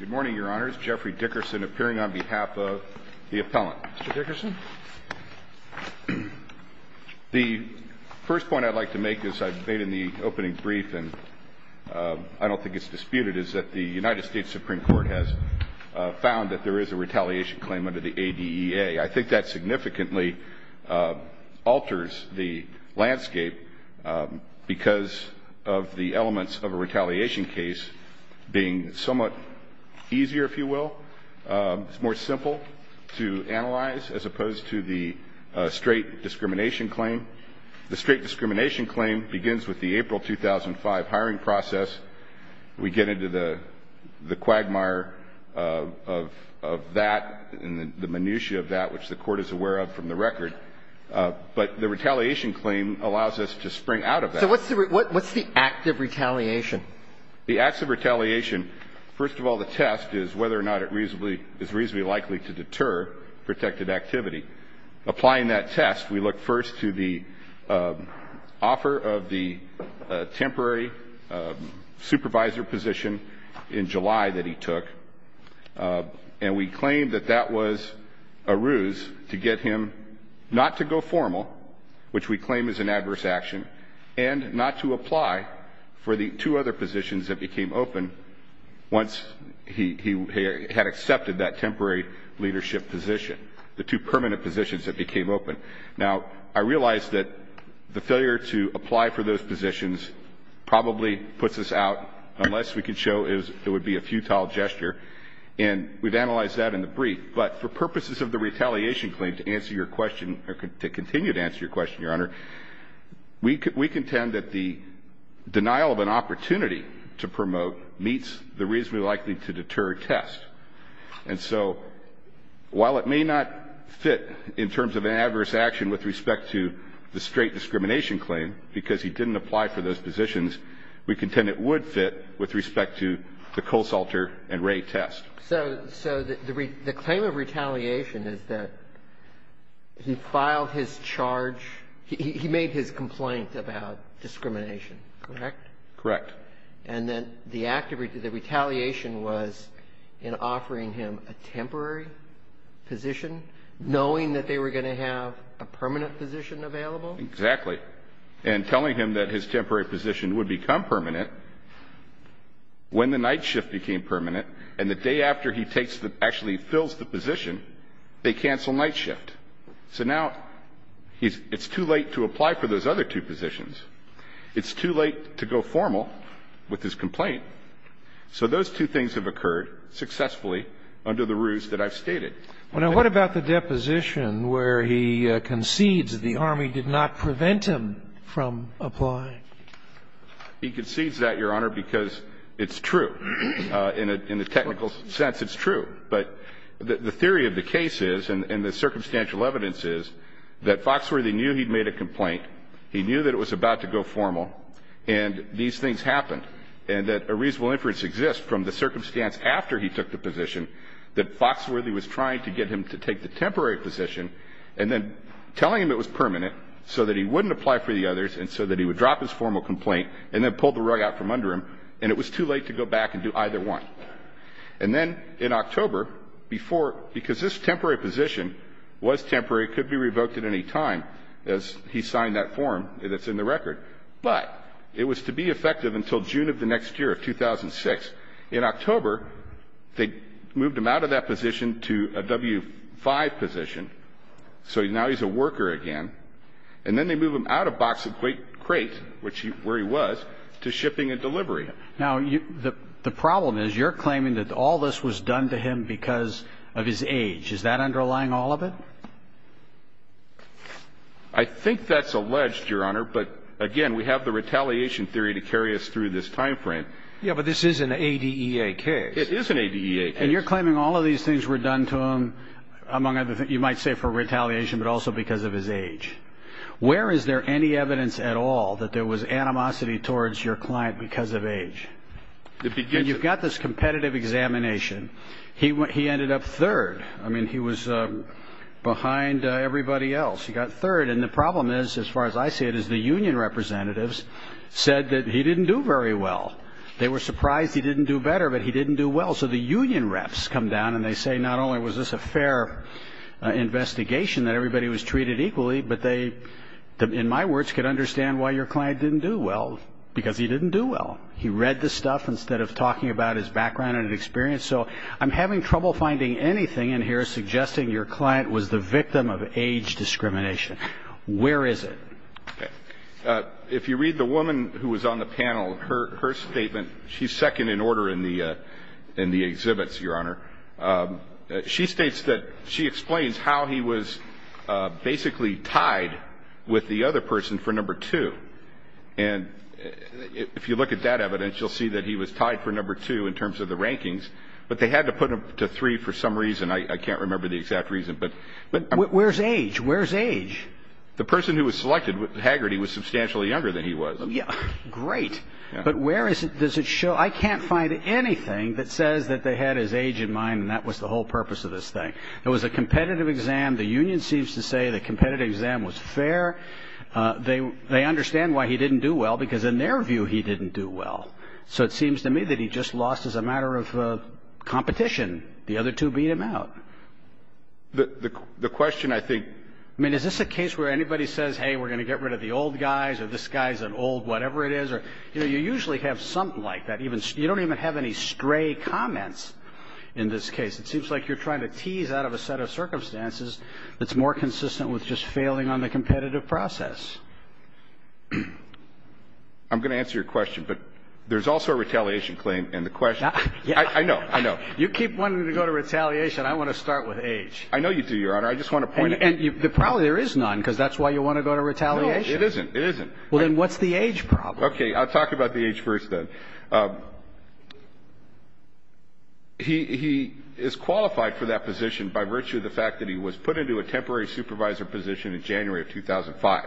Supreme Court has found that there is a retaliation claim under the ADEA. I think that significantly alters the landscape because of the elements of a retaliation case being somewhat easier, if you will, more simple to analyze as opposed to the straight discrimination claim. The straight discrimination claim begins with the April 2005 hiring process. We get into the quagmire of that and the retaliation claim allows us to spring out of that. So what's the act of retaliation? The acts of retaliation, first of all, the test is whether or not it is reasonably likely to deter protective activity. Applying that test, we look first to the offer of the temporary supervisor position in July that he took, and we claim that that was a ruse to get him not to go formal, which we claim is an adverse action, and not to apply for the two other positions that became open once he had accepted that temporary leadership position, the two permanent positions that became open. Now, I realize that the failure to apply for those positions probably puts us out unless we can show it would be a futile gesture, and we've to continue to answer your question, Your Honor. We contend that the denial of an opportunity to promote meets the reasonably likely to deter test. And so while it may not fit in terms of an adverse action with respect to the straight discrimination claim because he didn't apply for those positions, we contend it would fit with respect to the Colesalter and Wray test. So the claim of retaliation is that he filed his charge, he made his complaint about discrimination, correct? Correct. And then the act of retaliation was in offering him a temporary position, knowing that they were going to have a permanent position available? Exactly. And telling him that his temporary position would become permanent when the night shift became permanent, and the day after he takes the actually fills the position, they cancel night shift. So now it's too late to apply for those other two positions. It's too late to go formal with his complaint. So those two things have occurred successfully under the ruse that I've stated. Well, now, what about the deposition where he concedes the Army did not prevent him from applying? He concedes that, Your Honor, because it's true. In a technical sense, it's true. But the theory of the case is, and the circumstantial evidence is, that Foxworthy knew he'd made a complaint. He knew that it was about to go formal. And these things happened. And that a reasonable inference exists from the circumstance after he took the position that Foxworthy was trying to get him to take the temporary position and then telling him it was permanent so that he wouldn't apply for the others and so that he would drop his formal complaint and then pull the rug out from under him. And it was too late to go back and do either one. And then in October, before, because this temporary position was temporary, could be revoked at any time, as he signed that form that's in the record. But it was to be effective until June of the next year, 2006. In October, they moved him out of that position to a W-5 position. So now he's a worker again. And then they move him out of box and crate, where he was, to shipping and delivery. Now, the problem is you're claiming that all this was done to him because of his age. Is that underlying all of it? I think that's alleged, Your Honor. But, again, we have the retaliation theory to carry us through this time frame. Yeah, but this is an ADEA case. It is an ADEA case. And you're claiming all of these things were done to him, among other things, you might say for retaliation, but also because of his age. Where is there any evidence at all that there was animosity towards your client because of age? It begins at... And you've got this competitive examination. He ended up third. I mean, he was behind everybody else. He got third. And the problem is, as far as I see it, is the union representatives said that he didn't do very well. They were surprised he didn't do better, but he didn't do well. So the union reps come down, and they say not only was this a fair investigation, that everybody was treated equally, but they, in my words, could understand why your client didn't do well, because he didn't do well. He read the stuff instead of talking about his background and experience. So I'm having trouble finding anything in here suggesting your client was the victim of age discrimination. Where is it? If you read the woman who was on the panel, her statement, she's second in order in the exhibits, Your Honor. She states that she explains how he was basically tied with the other person for number two. And if you look at that evidence, you'll see that he was tied for number two in terms of the rankings. But they had to put him to three for some reason. I can't remember the exact reason. Where's age? Where's age? The person who was selected, Haggerty, was substantially younger than he was. Great. But where does it show? I can't find anything that says that they had his age in mind, and that was the whole purpose of this thing. It was a competitive exam. The union seems to say the competitive exam was fair. They understand why he didn't do well, because in their view, he didn't do well. So it seems to me that he just lost as a matter of competition. The other two beat him out. The question, I think – I mean, is this a case where anybody says, hey, we're going to get rid of the old guys, or this guy's an old whatever it is? You know, you usually have something like that. You don't even have any stray comments in this case. It seems like you're trying to tease out of a set of circumstances that's more consistent with just failing on the competitive process. I'm going to answer your question, but there's also a retaliation claim, and the question – I know. I know. You keep wanting to go to retaliation. I want to start with age. I know you do, Your Honor. I just want to point out – And probably there is none, because that's why you want to go to retaliation. No, it isn't. It isn't. Well, then what's the age problem? Okay. I'll talk about the age first, then. He is qualified for that position by virtue of the fact that he was put into a temporary supervisor position in January of 2005,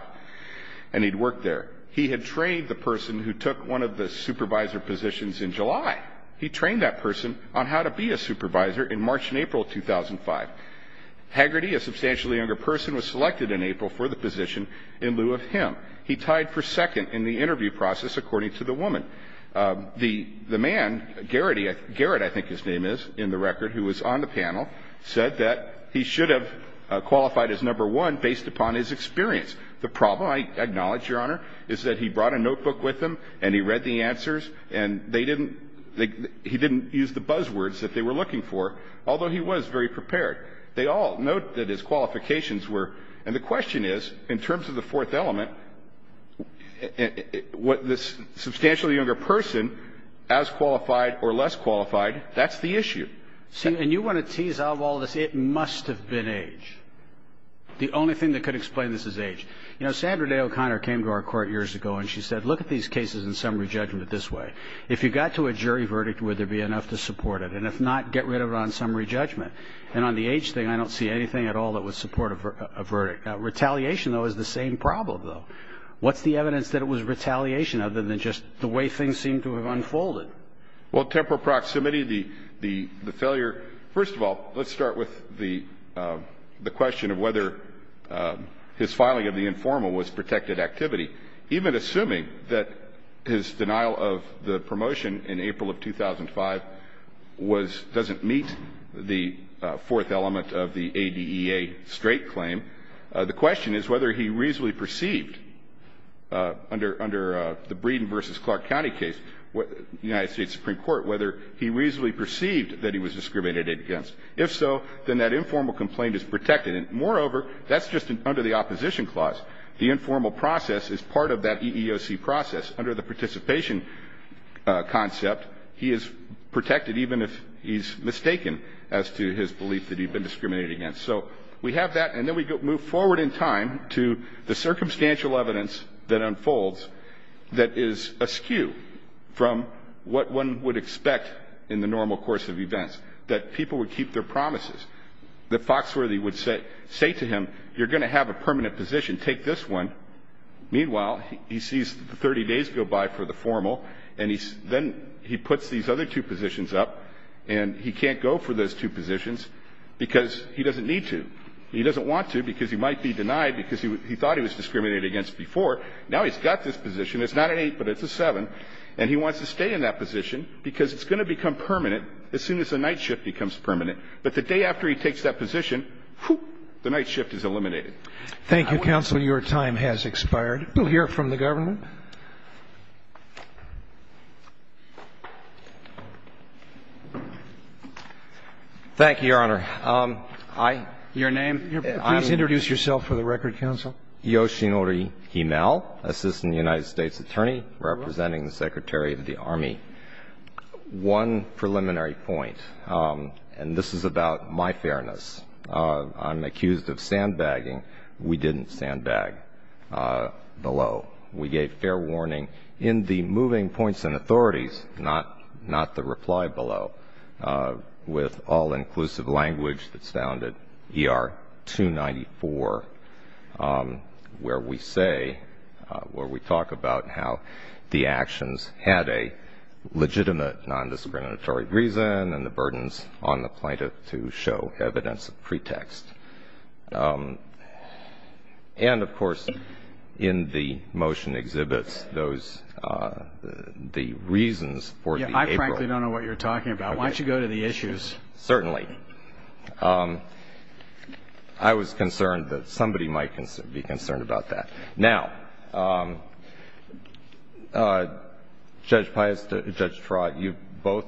and he'd worked there. He had trained the person who took one of the supervisor positions in July. He trained that person on how to be a supervisor in March and April of 2005. Haggerty, a substantially younger person, was selected in April for the position in lieu of him. He tied for second in the interview process, according to the woman. The man, Garrett, I think his name is, in the record, who was on the panel, said that he should have qualified as number one based upon his experience. The problem, I acknowledge, Your Honor, is that he brought a notebook with him, and he read the answers, and he didn't use the buzzwords that they were looking for, although he was very prepared. They all note that his qualifications were – And the question is, in terms of the fourth element, what this substantially younger person, as qualified or less qualified, that's the issue. See, and you want to tease out all this. It must have been age. The only thing that could explain this is age. You know, Sandra Day O'Connor came to our court years ago, and she said, look at these cases in summary judgment this way. If you got to a jury verdict, would there be enough to support it? And if not, get rid of it on summary judgment. And on the age thing, I don't see anything at all that would support a verdict. Retaliation, though, is the same problem, though. What's the evidence that it was retaliation other than just the way things seem to have unfolded? Well, temporal proximity, the failure – first of all, let's start with the question of whether his filing of the informal was protected activity. Even assuming that his denial of the promotion in April of 2005 was – doesn't meet the fourth element of the ADEA straight claim, the question is whether he reasonably perceived under the Breeden v. Clark County case, United States Supreme Court, whether he reasonably perceived that he was discriminated against. If so, then that informal complaint is protected. And moreover, that's just under the opposition clause. The informal process is part of that EEOC process. Under the participation concept, he is protected even if he's mistaken as to his belief that he'd been discriminated against. So we have that. And then we move forward in time to the circumstantial evidence that unfolds that is askew from what one would expect in the normal course of events, that people would keep their promises, that Foxworthy would say to him, you're going to have a permanent position. Take this one. Meanwhile, he sees 30 days go by for the formal, and then he puts these other two positions up, and he can't go for those two positions because he doesn't need to. He doesn't want to because he might be denied because he thought he was discriminated against before. Now he's got this position. It's not an 8, but it's a 7. And he wants to stay in that position because it's going to become permanent as soon as the night shift becomes permanent. But the day after he takes that position, the night shift is eliminated. Thank you, counsel. Your time has expired. We'll hear from the government. Thank you, Your Honor. Your name? Please introduce yourself for the record, counsel. Yoshinori Himal, Assistant United States Attorney, representing the Secretary of the Army. One preliminary point, and this is about my fairness, I'm accused of sandbagging. We didn't sandbag below. We gave fair warning in the moving points and authorities, not the reply below, with all-inclusive language that's found at ER 294, where we say, where we talk about how the actions had a legitimate nondiscriminatory reason and the burdens on the plaintiff to show evidence of pretext. And, of course, in the motion exhibits those, the reasons for the April. I simply don't know what you're talking about. Why don't you go to the issues? Certainly. I was concerned that somebody might be concerned about that. Now, Judge Pius, Judge Trott, you both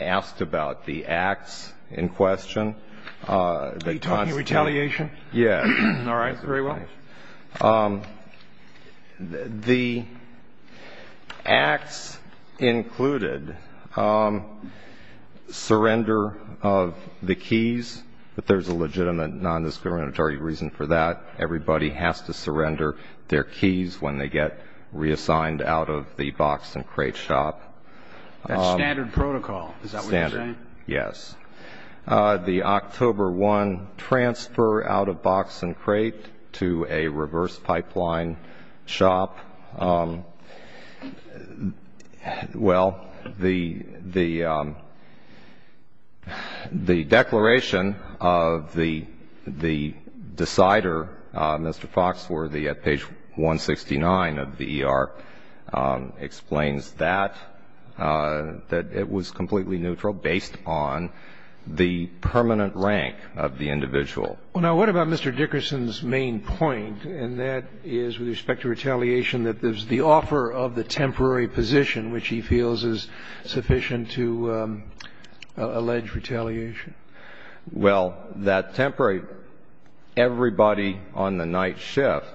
asked about the acts in question. Are you talking retaliation? Yes. All right. Very well. All right. The acts included surrender of the keys, but there's a legitimate nondiscriminatory reason for that. Everybody has to surrender their keys when they get reassigned out of the box and crate shop. That's standard protocol. Is that what you're saying? Standard, yes. The October 1 transfer out of box and crate to a reverse pipeline shop. Well, the declaration of the decider, Mr. Foxworthy, at page 169 of the ER, explains that, that it was completely neutral based on the permanent rank of the individual. Now, what about Mr. Dickerson's main point, and that is with respect to retaliation, that there's the offer of the temporary position, which he feels is sufficient to allege retaliation? Well, that temporary, everybody on the night shift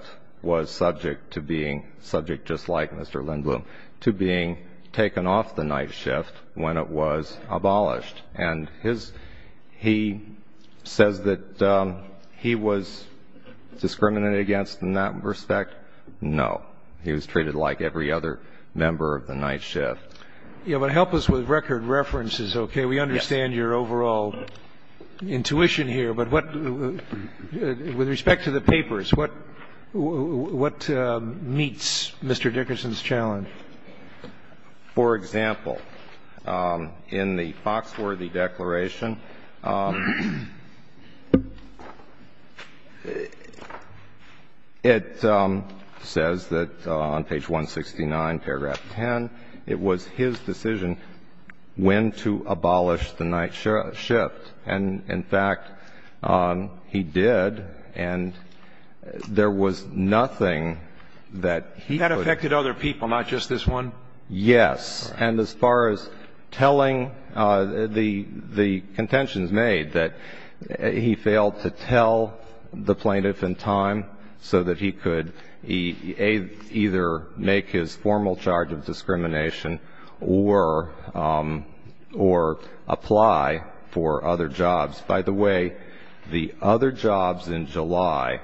was subject to being, subject just like Mr. Lindblom, to being taken off the night shift when it was abolished. And his, he says that he was discriminated against in that respect. No. He was treated like every other member of the night shift. Yeah, but help us with record references, okay? Yes. I don't understand your overall intuition here, but what, with respect to the papers, what meets Mr. Dickerson's challenge? For example, in the Foxworthy declaration, it says that on page 169, paragraph 10, it was his decision when to abolish the night shift. And, in fact, he did, and there was nothing that he could do. That affected other people, not just this one? Yes. And as far as telling the contentions made, that he failed to tell the plaintiff in time so that he could either make his formal charge of discrimination or apply for other jobs. By the way, the other jobs in July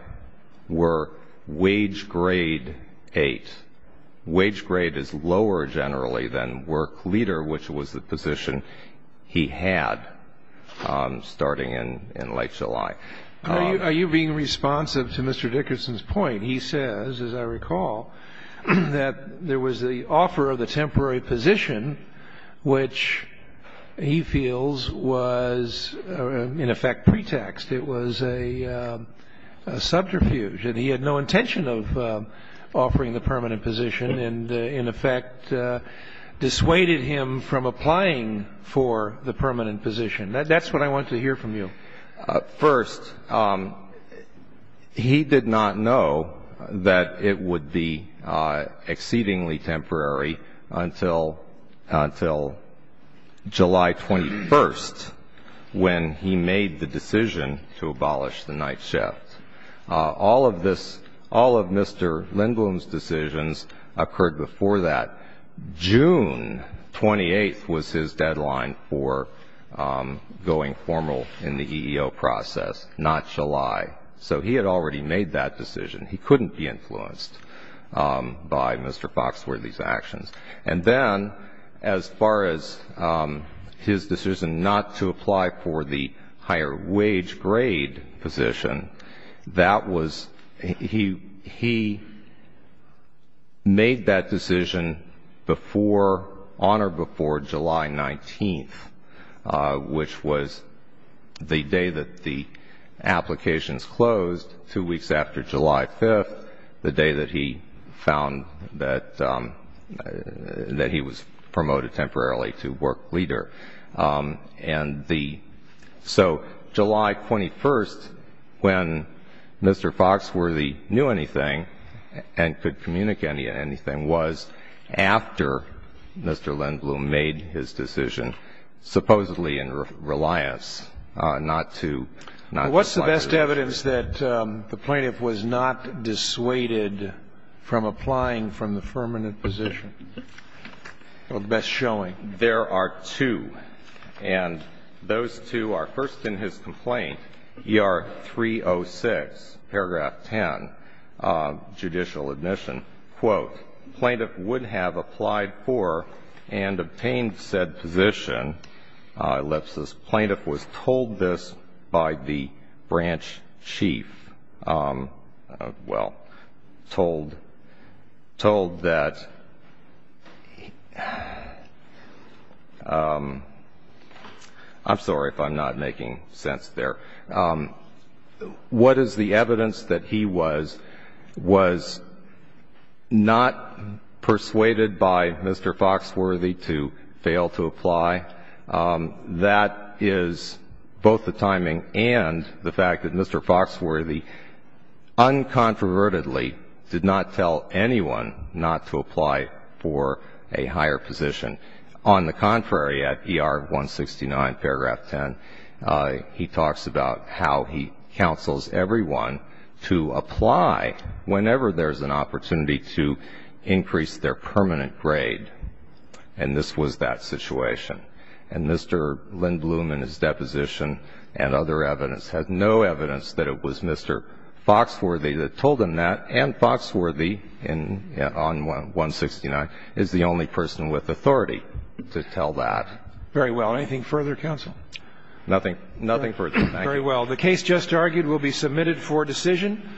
were wage grade eight. Wage grade is lower generally than work leader, which was the position he had starting in late July. Are you being responsive to Mr. Dickerson's point? He says, as I recall, that there was the offer of the temporary position, which he feels was, in effect, pretext. It was a subterfuge, and he had no intention of offering the permanent position and, in effect, dissuaded him from applying for the permanent position. That's what I want to hear from you. First, he did not know that it would be exceedingly temporary until July 21st when he made the decision to abolish the night shift. All of this, all of Mr. Lindblom's decisions occurred before that. June 28th was his deadline for going formal in the EEO process, not July. So he had already made that decision. He couldn't be influenced by Mr. Foxworthy's actions. And then, as far as his decision not to apply for the higher wage grade position, he made that decision on or before July 19th, which was the day that the applications closed, two weeks after July 5th, the day that he found that he was promoted temporarily to work leader. And the so July 21st, when Mr. Foxworthy knew anything and could communicate anything, was after Mr. Lindblom made his decision, supposedly in reliance not to not apply for the position. What's the best evidence that the plaintiff was not dissuaded from applying from the permanent position? Or the best showing? There are two. And those two are first in his complaint, ER 306, paragraph 10, judicial admission. Quote, Plaintiff would have applied for and obtained said position, ellipsis, plaintiff was told this by the branch chief. Well, told that, I'm sorry if I'm not making sense there. What is the evidence that he was not persuaded by Mr. Foxworthy to fail to apply? That is both the timing and the fact that Mr. Foxworthy uncontrovertedly did not tell anyone not to apply for a higher position. On the contrary, at ER 169, paragraph 10, he talks about how he counsels everyone to apply whenever there's an opportunity to increase their permanent grade. And this was that situation. And Mr. Lindblom in his deposition and other evidence has no evidence that it was Mr. Foxworthy that told him that, and Foxworthy on 169 is the only person with authority to tell that. Very well. Anything further, counsel? Nothing. Nothing further. Thank you. Very well. The case just argued will be submitted for decision.